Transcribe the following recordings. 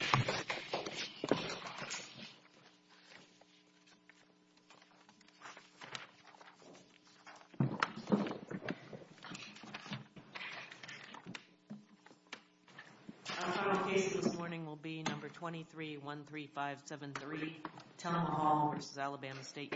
The final case this morning will be number 2313573, Telma Hall v. Alabama State University. This case is number 2313573, Telma Hall v. Alabama State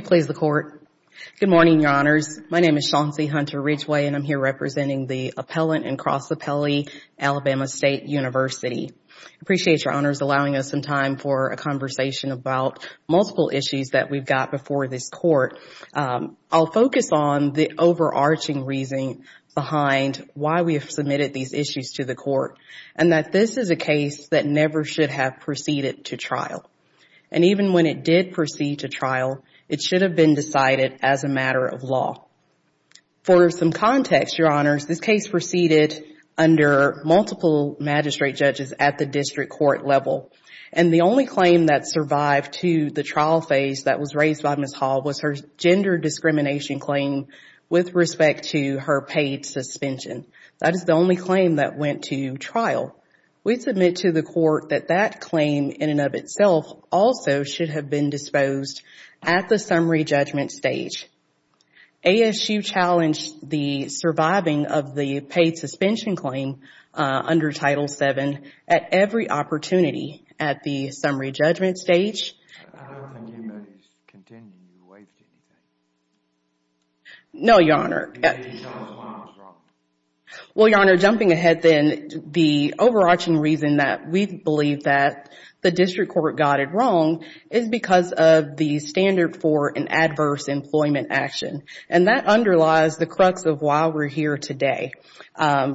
University. Good morning, Your Honors. My name is Chauncey Hunter Ridgway and I am here representing the Appellant and Cross Appellee, Alabama State University. I appreciate Your Honors allowing us some time for a conversation about multiple issues that we've got before this Court. I'll focus on the overarching reason behind why we have submitted these issues to the Court and that this is a case that never should have proceeded to trial. And even when it did proceed to trial, it should have been decided as a matter of law. For some context, Your Honors, this case proceeded under multiple magistrate judges at the district court level and the only claim that survived to the trial phase that was raised by Ms. Hall was her gender discrimination claim with respect to her paid suspension. That is the only claim that went to trial. We submit to the Court that that claim in and of itself also should have been disposed at the summary judgment stage. ASU challenged the surviving of the paid suspension claim under Title VII at every opportunity at the summary judgment stage. I don't think anybody is contending you waived anything. No, Your Honor. You're telling us why I was wrong. Well, Your Honor, jumping ahead then, the overarching reason that we believe that the district court got it wrong is because of the standard for an adverse employment action and that underlies the crux of why we're here today.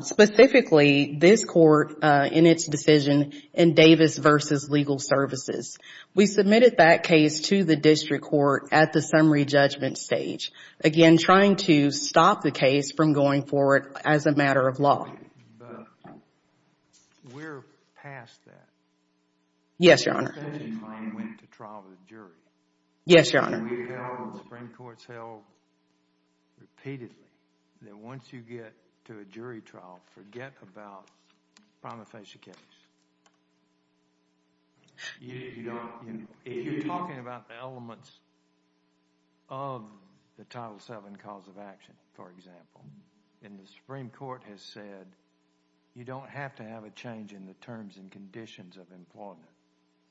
Specifically, this court in its decision in Davis v. Legal Services, we submitted that case to the district court at the summary judgment stage, again, trying to stop the case from going forward as a matter of law. But we're past that. Yes, Your Honor. The paid suspension claim went to trial with a jury. Yes, Your Honor. The Supreme Court has held repeatedly that once you get to a jury trial, forget about prima facie case. If you don't... If you're talking about the elements of the Title VII cause of action, for example, and the Supreme Court has said you don't have to have a change in the terms and conditions of employment.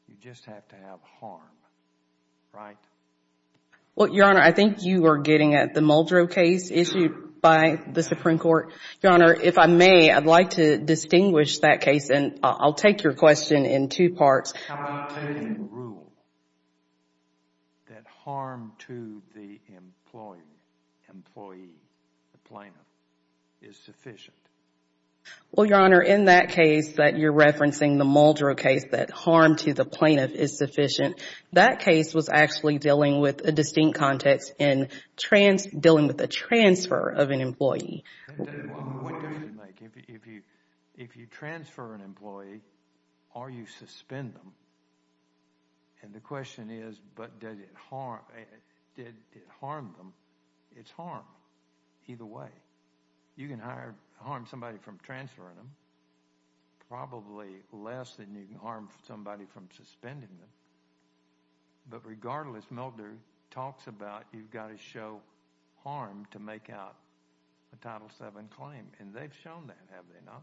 You just have to have harm, right? Well, Your Honor, I think you are getting at the Muldrow case issued by the Supreme Court. Your Honor, if I may, I'd like to distinguish that case and I'll take your question in two parts. How about taking the rule that harm to the employee, the plaintiff, is sufficient? Well, Your Honor, in that case that you're referencing, the Muldrow case, that harm to the plaintiff is sufficient. That case was actually dealing with a distinct context in dealing with a transfer of an employee. If you transfer an employee or you suspend them, and the question is, but did it harm them? It's harm either way. You can harm somebody from transferring them, probably less than you can harm somebody from suspending them, but regardless, Muldrow talks about you've got to show harm to make out a Title VII claim, and they've shown that, have they not?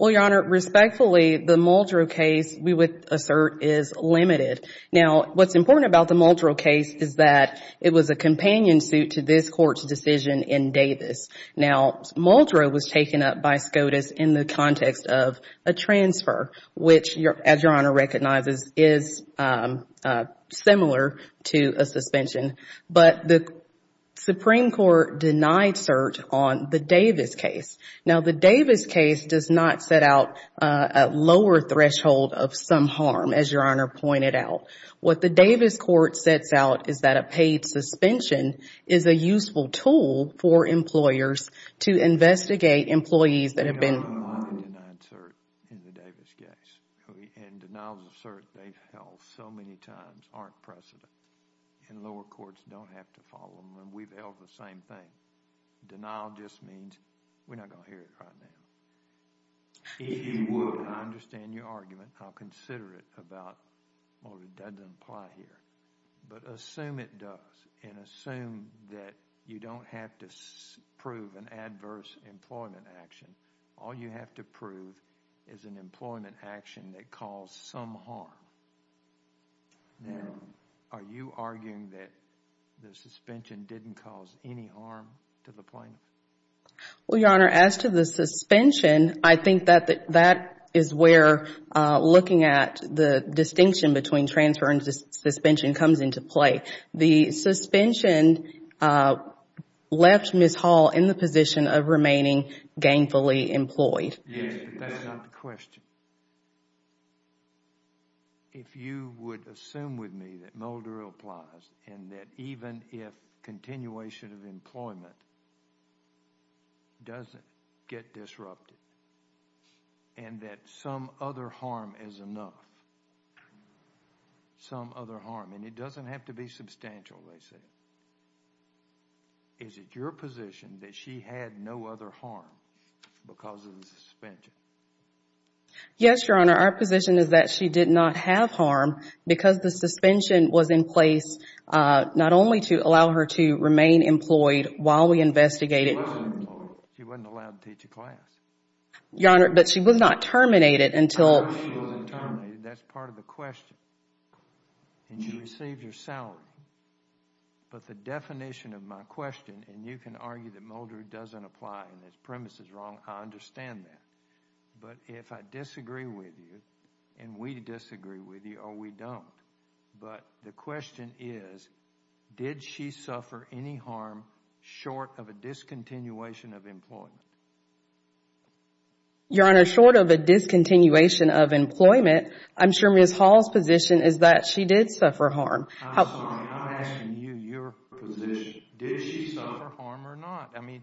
Well, Your Honor, respectfully, the Muldrow case, we would assert, is limited. Now, what's important about the Muldrow case is that it was a companion suit to this Court's decision in Davis. Now, Muldrow was taken up by SCOTUS in the context of a transfer, which, as Your Honor recognizes, is similar to a suspension, but the Supreme Court denied cert on the Davis case. Now, the Davis case does not set out a lower threshold of some harm, as Your Honor pointed out. What the Davis court sets out is that a paid suspension is a useful tool for employers to investigate employees that have been... We have not denied cert in the Davis case, and denials of cert they've held so many times aren't precedent, and lower courts don't have to follow them, and we've held the same thing. Denial just means we're not going to hear it right now. If you would, and I understand your argument, I'll consider it about Muldrow, that doesn't apply here, but assume it does, and assume that you don't have to prove an adverse employment action. All you have to prove is an employment action that caused some harm. Now, are you arguing that the suspension didn't cause any harm to the plaintiff? Well, Your Honor, as to the suspension, I think that is where looking at the distinction between transfer and suspension comes into play. The suspension left Ms. Hall in the position of remaining gainfully employed. Yes, but that's not the question. If you would assume with me that Muldrow applies, and that even if continuation of employment doesn't get disrupted, and that some other harm is enough, some other harm, and it doesn't have to be substantial, they say, is it your position that she had no other harm because of the suspension? Yes, Your Honor. Our position is that she did not have harm because the suspension was in place not only to allow her to remain employed while we investigated... She wasn't allowed to teach a class. Your Honor, but she was not terminated until... She wasn't terminated. That's part of the question, and she received her salary, but the definition of my question, and you can argue that Muldrow doesn't apply and his premise is wrong, I understand that. But if I disagree with you, and we disagree with you, or we don't, but the question is, did she suffer any harm short of a discontinuation of employment? Your Honor, short of a discontinuation of employment, I'm sure Ms. Hall's position is that she did suffer harm. I'm sorry, I'm asking you your position. Did she suffer harm or not? I mean,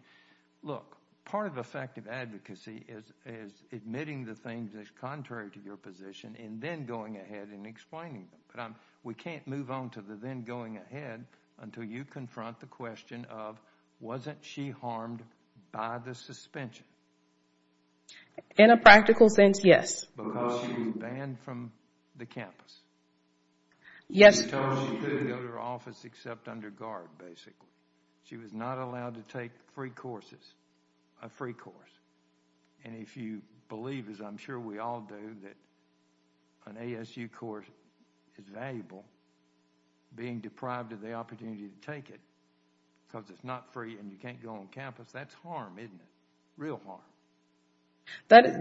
look, part of effective advocacy is admitting the things that's contrary to your position and then going ahead and explaining them. We can't move on to the then going ahead until you confront the question of, wasn't she harmed by the suspension? In a practical sense, yes. Because she was banned from the campus? Yes. She was told she could go to her office except under guard, basically. She was not allowed to take free courses, a free course, and if you believe, as I'm sure we all do, that an ASU course is valuable, being deprived of the opportunity to take it because it's not free and you can't go on campus, that's harm, isn't it? Real harm.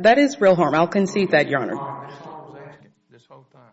That is real harm. I'll concede that, Your Honor. Ms. Hall was asking this whole time.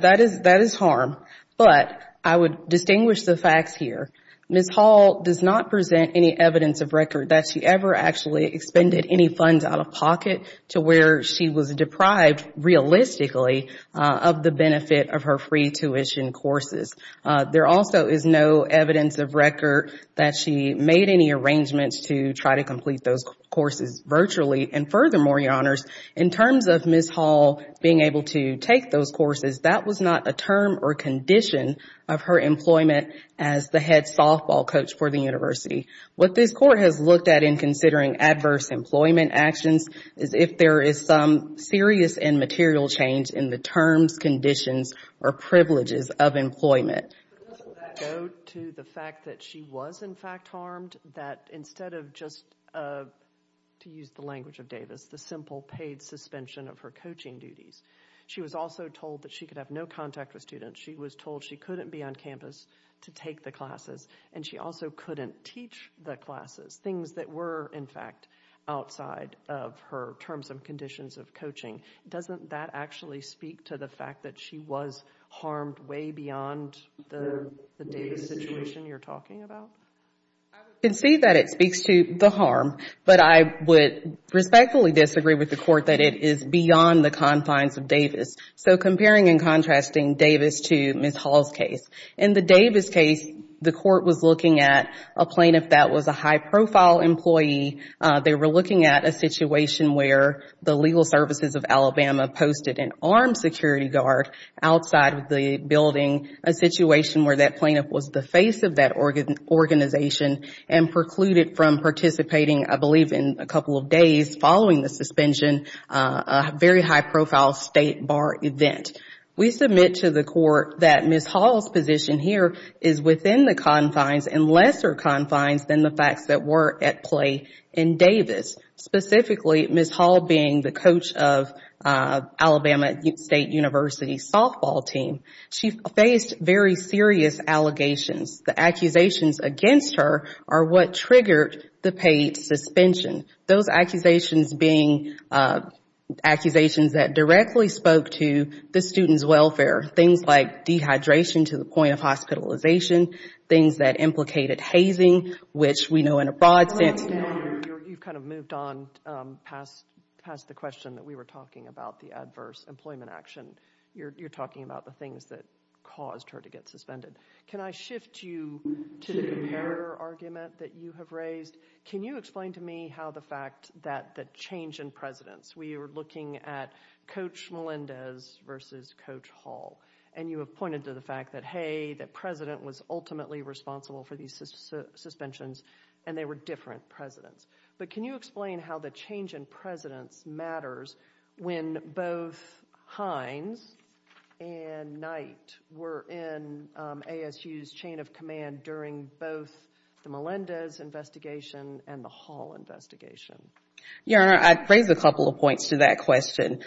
That is harm, but I would distinguish the facts here. Ms. Hall does not present any evidence of record that she ever actually expended any funds out of pocket to where she was deprived, realistically, of the benefit of her free tuition courses. There also is no evidence of record that she made any arrangements to try to complete those courses virtually and furthermore, Your Honors, in terms of Ms. Hall being able to take those courses, that was not a term or condition of her employment as the head softball coach for the university. What this court has looked at in considering adverse employment actions is if there is some serious and material change in the terms, conditions, or privileges of employment. Does that go to the fact that she was, in fact, harmed? That instead of just, to use the language of Davis, the simple paid suspension of her teaching duties, she was also told that she could have no contact with students. She was told she couldn't be on campus to take the classes and she also couldn't teach the classes, things that were, in fact, outside of her terms and conditions of coaching. Doesn't that actually speak to the fact that she was harmed way beyond the Davis situation you're talking about? I would concede that it speaks to the harm, but I would respectfully disagree with the court that it is beyond the confines of Davis. Comparing and contrasting Davis to Ms. Hall's case, in the Davis case, the court was looking at a plaintiff that was a high-profile employee. They were looking at a situation where the Legal Services of Alabama posted an armed security guard outside of the building, a situation where that plaintiff was the face of that organization and precluded from participating, I believe, in a couple of days following the paid suspension, a very high-profile state bar event. We submit to the court that Ms. Hall's position here is within the confines and lesser confines than the facts that were at play in Davis, specifically Ms. Hall being the coach of Alabama State University's softball team. She faced very serious allegations. The accusations against her are what triggered the paid suspension. Those accusations being accusations that directly spoke to the student's welfare, things like dehydration to the point of hospitalization, things that implicated hazing, which we know in a broad sense. You've kind of moved on past the question that we were talking about, the adverse employment action. You're talking about the things that caused her to get suspended. Can I shift you to the comparator argument that you have raised? Can you explain to me how the fact that the change in presidents, we were looking at Coach Melendez versus Coach Hall, and you have pointed to the fact that, hey, the president was ultimately responsible for these suspensions, and they were different presidents, but can you explain how the change in presidents matters when both Hines and Knight were in ASU's chain of command during both the Melendez investigation and the Hall investigation? Your Honor, I'd raise a couple of points to that question.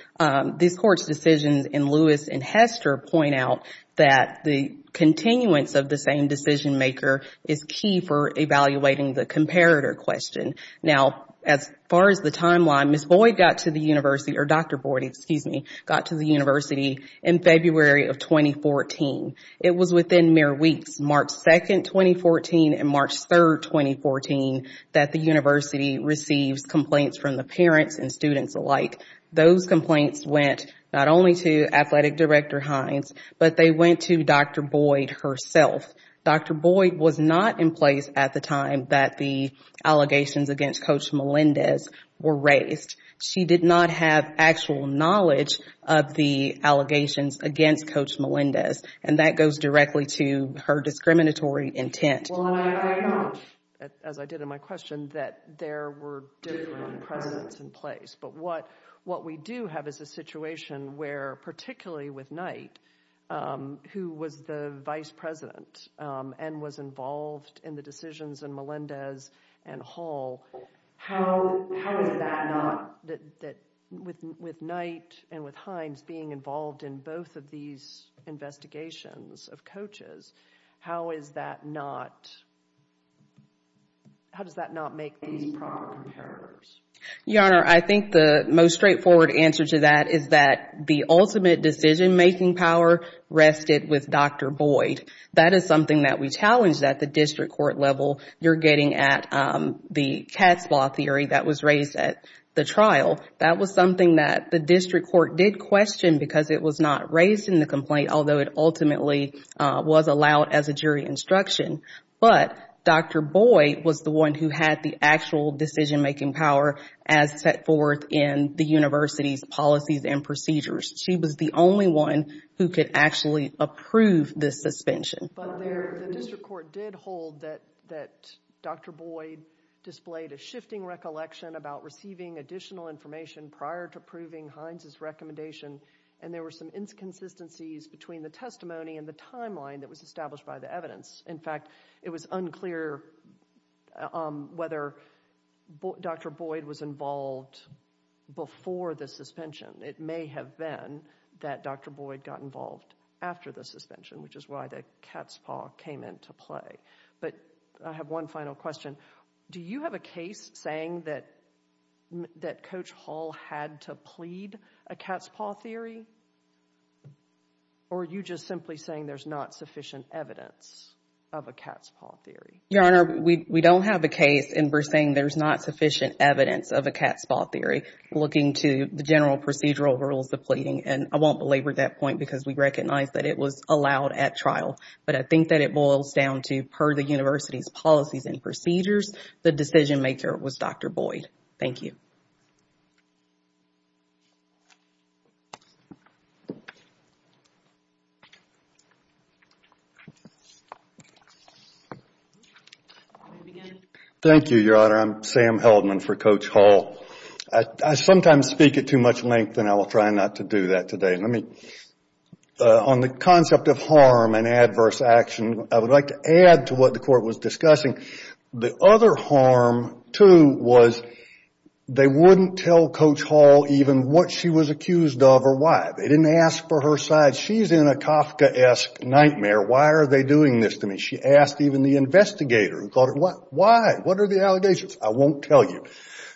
These courts' decisions in Lewis and Hester point out that the continuance of the same decision maker is key for evaluating the comparator question. Now, as far as the timeline, Ms. Boyd got to the university, or Dr. Boyd, excuse me, got to the university in February of 2014. It was within mere weeks, March 2nd, 2014, and March 3rd, 2014, that the university receives complaints from the parents and students alike. Those complaints went not only to Athletic Director Hines, but they went to Dr. Boyd herself. Dr. Boyd was not in place at the time that the allegations against Coach Melendez were raised. She did not have actual knowledge of the allegations against Coach Melendez, and that goes directly to her discriminatory intent. Well, I agree much, as I did in my question, that there were different presidents in place, but what we do have is a situation where, particularly with Knight, who was the vice president, that with Knight and with Hines being involved in both of these investigations of coaches, how does that not make these proper comparators? Your Honor, I think the most straightforward answer to that is that the ultimate decision making power rested with Dr. Boyd. That is something that we challenged at the district court level. You're getting at the cat's paw theory that was raised at the trial. That was something that the district court did question because it was not raised in the complaint, although it ultimately was allowed as a jury instruction, but Dr. Boyd was the one who had the actual decision making power as set forth in the university's policies and procedures. She was the only one who could actually approve this suspension. But the district court did hold that Dr. Boyd displayed a shifting recollection about receiving additional information prior to approving Hines' recommendation, and there were some inconsistencies between the testimony and the timeline that was established by the evidence. In fact, it was unclear whether Dr. Boyd was involved before the suspension. It may have been that Dr. Boyd got involved after the suspension, which is why the cat's paw came into play. But I have one final question. Do you have a case saying that Coach Hall had to plead a cat's paw theory? Or are you just simply saying there's not sufficient evidence of a cat's paw theory? Your Honor, we don't have a case and we're saying there's not sufficient evidence of a cat's paw theory looking to the general procedural rules of pleading. And I won't belabor that point because we recognize that it was allowed at trial, but I think that it boils down to per the university's policies and procedures, the decision maker was Dr. Boyd. Thank you. Thank you, Your Honor. I'm Sam Heldman for Coach Hall. I sometimes speak at too much length and I will try not to do that today. On the concept of harm and adverse action, I would like to add to what the Court was discussing. The other harm, too, was they wouldn't tell Coach Hall even what she was accused of or why. They didn't ask for her side. She's in a Kafkaesque nightmare. Why are they doing this to me? She asked even the investigator who called her. Why? What are the allegations? I won't tell you.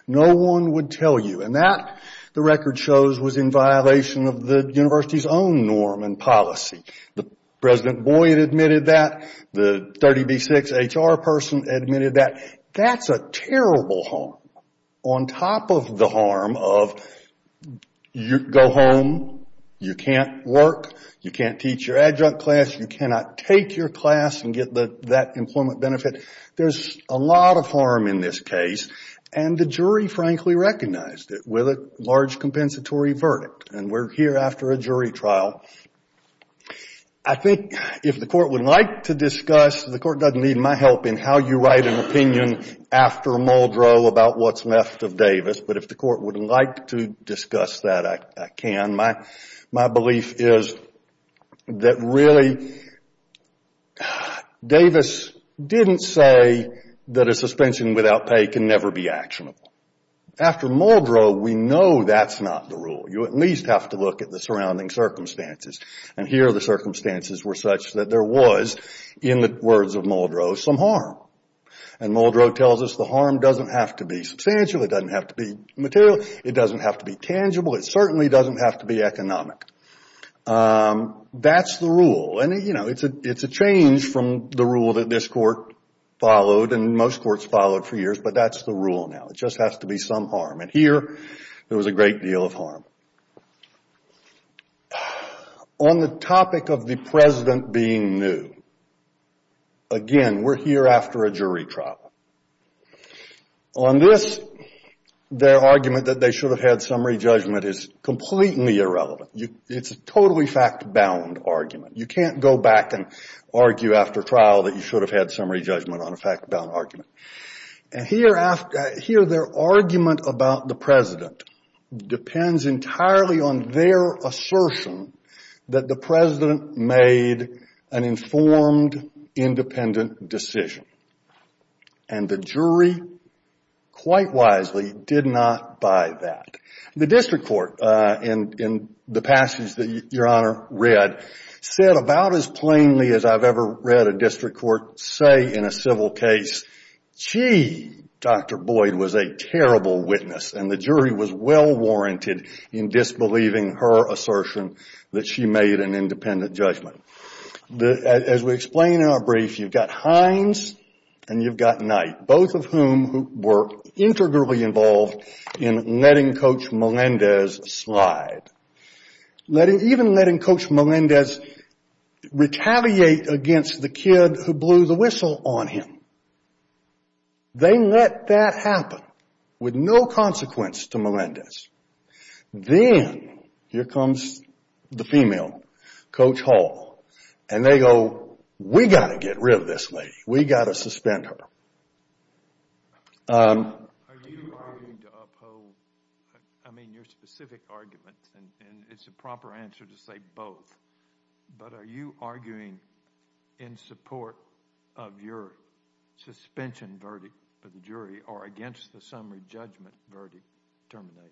No one would tell you. And that, the record shows, was in violation of the university's own norm and policy. The President Boyd admitted that. The 30B6 HR person admitted that. That's a terrible harm. On top of the harm of you go home, you can't work, you can't teach your adjunct class, you cannot take your class and get that employment benefit, there's a lot of harm in this case. And the jury, frankly, recognized it with a large compensatory verdict. And we're here after a jury trial. I think if the Court would like to discuss, the Court doesn't need my help in how you write an opinion after Muldrow about what's left of Davis, but if the Court would like to discuss that, I can. My belief is that really, Davis didn't say that a suspension without pay can never be actionable. After Muldrow, we know that's not the rule. You at least have to look at the surrounding circumstances. And here the circumstances were such that there was, in the words of Muldrow, some harm. And Muldrow tells us the harm doesn't have to be substantial, it doesn't have to be material, it doesn't have to be tangible, it certainly doesn't have to be economic. That's the rule. And, you know, it's a change from the rule that this Court followed and most courts followed for years, but that's the rule now. It just has to be some harm. And here, there was a great deal of harm. On the topic of the President being new, again, we're here after a jury trial. On this, their argument that they should have had summary judgment is completely irrelevant. It's a totally fact-bound argument. You can't go back and argue after trial that you should have had summary judgment on a fact-bound argument. And here, their argument about the President depends entirely on their assertion that the President made an informed, independent decision. And the jury, quite wisely, did not buy that. The district court, in the passage that Your Honor read, said about as plainly as I've ever read a district court say in a civil case, gee, Dr. Boyd was a terrible witness and the jury was well-warranted in disbelieving her assertion that she made an independent judgment. As we explain in our brief, you've got Hines and you've got Knight, both of whom were integrally involved in letting Coach Melendez slide. Even letting Coach Melendez retaliate against the kid who blew the whistle on him. They let that happen with no consequence to Melendez. Then, here comes the female, Coach Hall, and they go, we've got to get rid of this lady. We've got to suspend her. Are you arguing to uphold, I mean, your specific argument, and it's a proper answer to say both, but are you arguing in support of your suspension verdict for the jury or against the summary judgment verdict termination?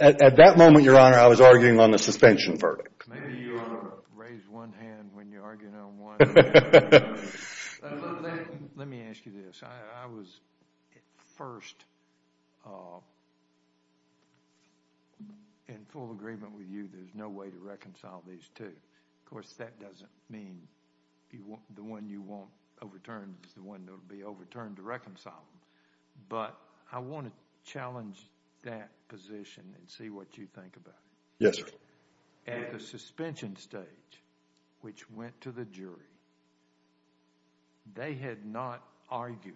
At that moment, Your Honor, I was arguing on the suspension verdict. Maybe you ought to raise one hand when you're arguing on one. Let me ask you this. I was at first in full agreement with you, there's no way to reconcile these two. Of course, that doesn't mean the one you want overturned is the one that will be overturned to reconcile them, but I want to challenge that position and see what you think about it. Yes, sir. At the suspension stage, which went to the jury, they had not argued.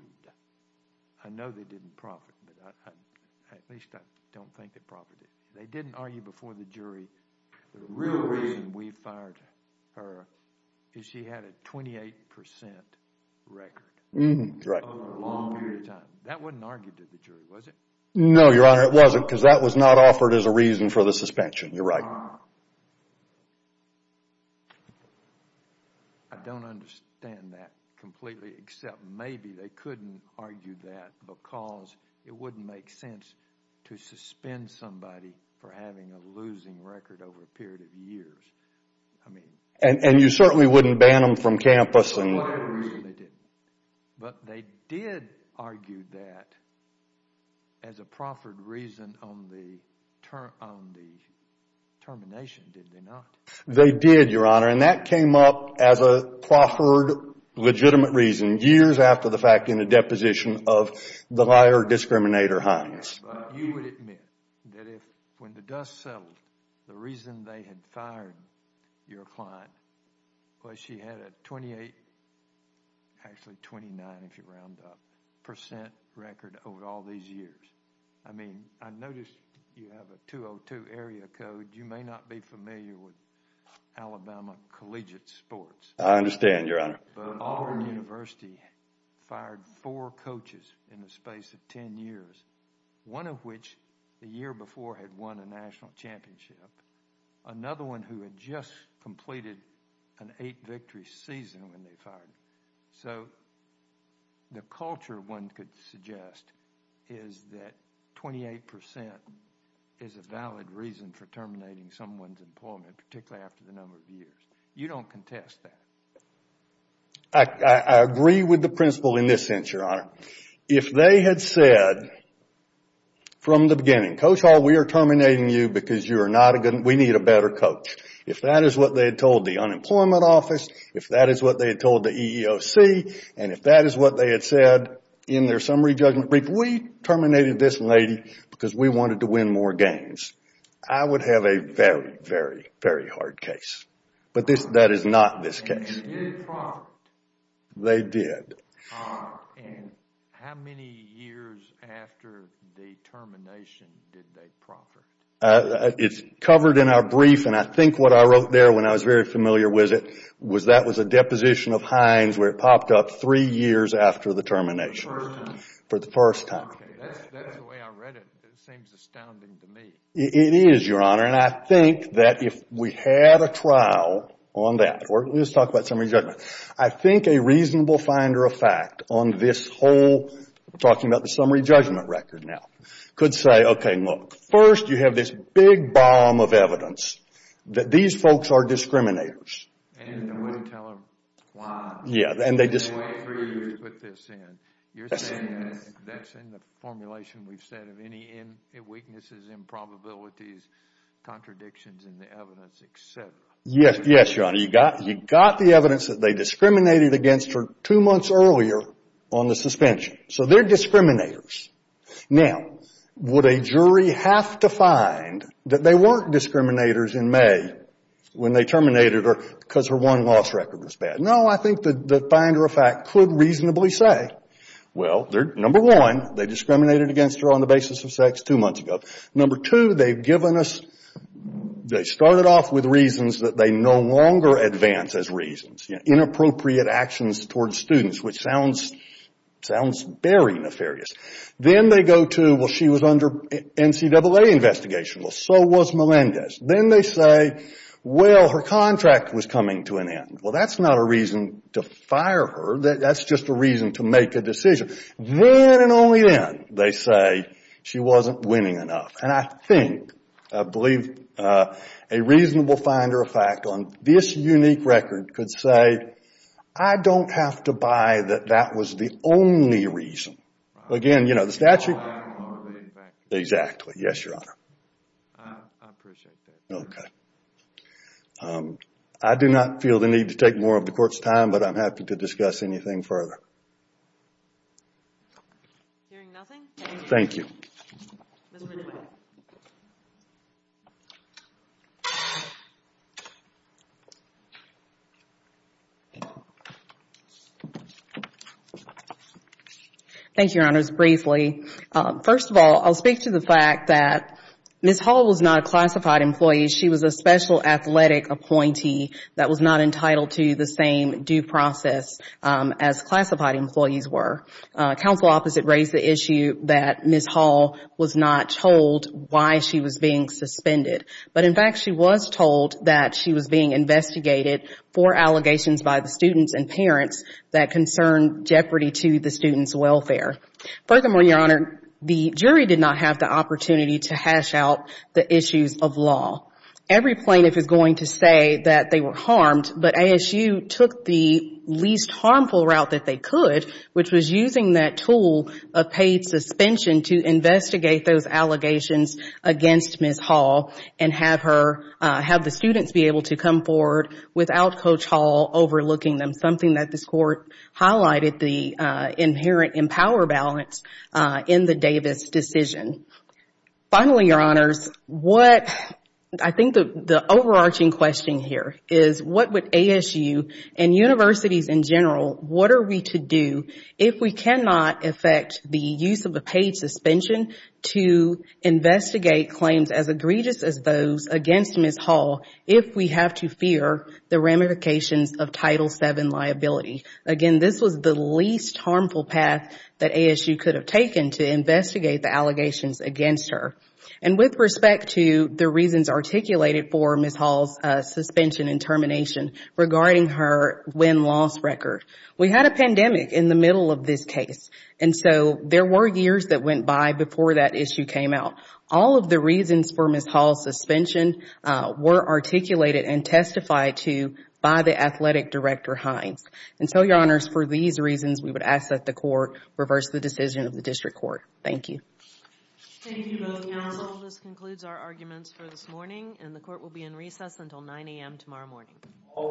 I know they didn't profit, but at least I don't think they profited. They didn't argue before the jury. The real reason we fired her is she had a 28% record over a long period of time. That wasn't argued to the jury, was it? No, Your Honor, it wasn't, because that was not offered as a reason for the suspension. You're right. I don't understand that completely, except maybe they couldn't argue that because it wouldn't make sense to suspend somebody for having a losing record over a period of years. And you certainly wouldn't ban them from campus. But they did argue that as a proffered reason on the termination, did they not? They did, Your Honor, and that came up as a proffered, legitimate reason years after the fact in the deposition of the liar, discriminator, Hines. You would admit that when the dust settled, the reason they had fired your client was that she had a 28, actually 29 if you round up, percent record over all these years. I mean, I noticed you have a 202 area code. You may not be familiar with Alabama collegiate sports. I understand, Your Honor. Auburn University fired four coaches in the space of 10 years, one of which the year before had won a national championship. Another one who had just completed an eight victory season when they fired. So, the culture one could suggest is that 28% is a valid reason for terminating someone's employment, particularly after the number of years. You don't contest that. I agree with the principle in this sense, Your Honor. If they had said from the beginning, Coach Hall, we are terminating you because you are not a good, we need a better coach. If that is what they had told the unemployment office, if that is what they had told the EEOC, and if that is what they had said in their summary judgment brief, we terminated this lady because we wanted to win more games. I would have a very, very, very hard case. But that is not this case. They did profit. They did. How many years after the termination did they profit? It is covered in our brief, and I think what I wrote there when I was very familiar with it, was that was a deposition of Heinz where it popped up three years after the termination. For the first time. That is the way I read it. It seems astounding to me. It is, Your Honor. I think that if we had a trial on that, or let's talk about summary judgment. I think a reasonable finder of fact on this whole, we are talking about the summary judgment record now, could say, okay, look, first you have this big bomb of evidence that these folks are discriminators. And no one would tell them why. Yeah. They just wait three years to put this in. You are saying that is in the formulation we have said of any weaknesses, improbabilities, contradictions in the evidence, et cetera. Yes, Your Honor. You got the evidence that they discriminated against her two months earlier on the suspension. So, they are discriminators. Now, would a jury have to find that they were not discriminators in May when they terminated her because her one loss record was bad? No, I think the finder of fact could reasonably say, well, number one, they discriminated against her on the basis of sex two months ago. Number two, they have given us, they started off with reasons that they no longer advance as reasons. Inappropriate actions towards students, which sounds very nefarious. Then they go to, well, she was under NCAA investigation. Well, so was Melendez. Then they say, well, her contract was coming to an end. Well, that is not a reason to fire her. That is just a reason to make a decision. Then and only then, they say, she was not winning enough. And I think, I believe a reasonable finder of fact on this unique record could say, I do not have to buy that that was the only reason. Again, you know, the statute. I do not want to believe that. Exactly. Yes, Your Honor. I appreciate that. Okay. I do not feel the need to take more of the Court's time, but I am happy to discuss anything further. Hearing nothing, thank you. Thank you, Your Honors. Briefly. First of all, I will speak to the fact that Ms. Hall was not a classified employee. She was a special athletic appointee that was not entitled to the same due process as classified employees were. Counsel opposite raised the issue that Ms. Hall was not told why she was being suspended. But in fact, she was told that she was being investigated for allegations by the students and parents that concerned jeopardy to the students' welfare. Furthermore, Your Honor, the jury did not have the opportunity to hash out the issues of law. Every plaintiff is going to say that they were harmed, but ASU took the least harmful route that they could, which was using that tool of paid suspension to investigate those allegations against Ms. Hall and have her, have the students be able to come forward without Coach Hall overlooking them, something that this Court highlighted, the inherent in power balance in the Davis decision. Finally, Your Honors, what I think the overarching question here is what would ASU and universities in general, what are we to do if we cannot affect the use of a paid suspension to investigate claims as egregious as those against Ms. Hall if we have to fear the ramifications of Title VII liability? Again, this was the least harmful path that ASU could have taken to investigate the allegations against her. And with respect to the reasons articulated for Ms. Hall's suspension and termination regarding her win-loss record, we had a pandemic in the middle of this case. And so, there were years that went by before that issue came out. All of the reasons for Ms. Hall's suspension were articulated and testified to by the Athletic Director Hines. And so, Your Honors, for these reasons, we would ask that the Court reverse the decision of the District Court. Thank you. Thank you both, Your Honor. Well, this concludes our arguments for this morning and the Court will be in recess until 9 a.m. tomorrow morning. All rise.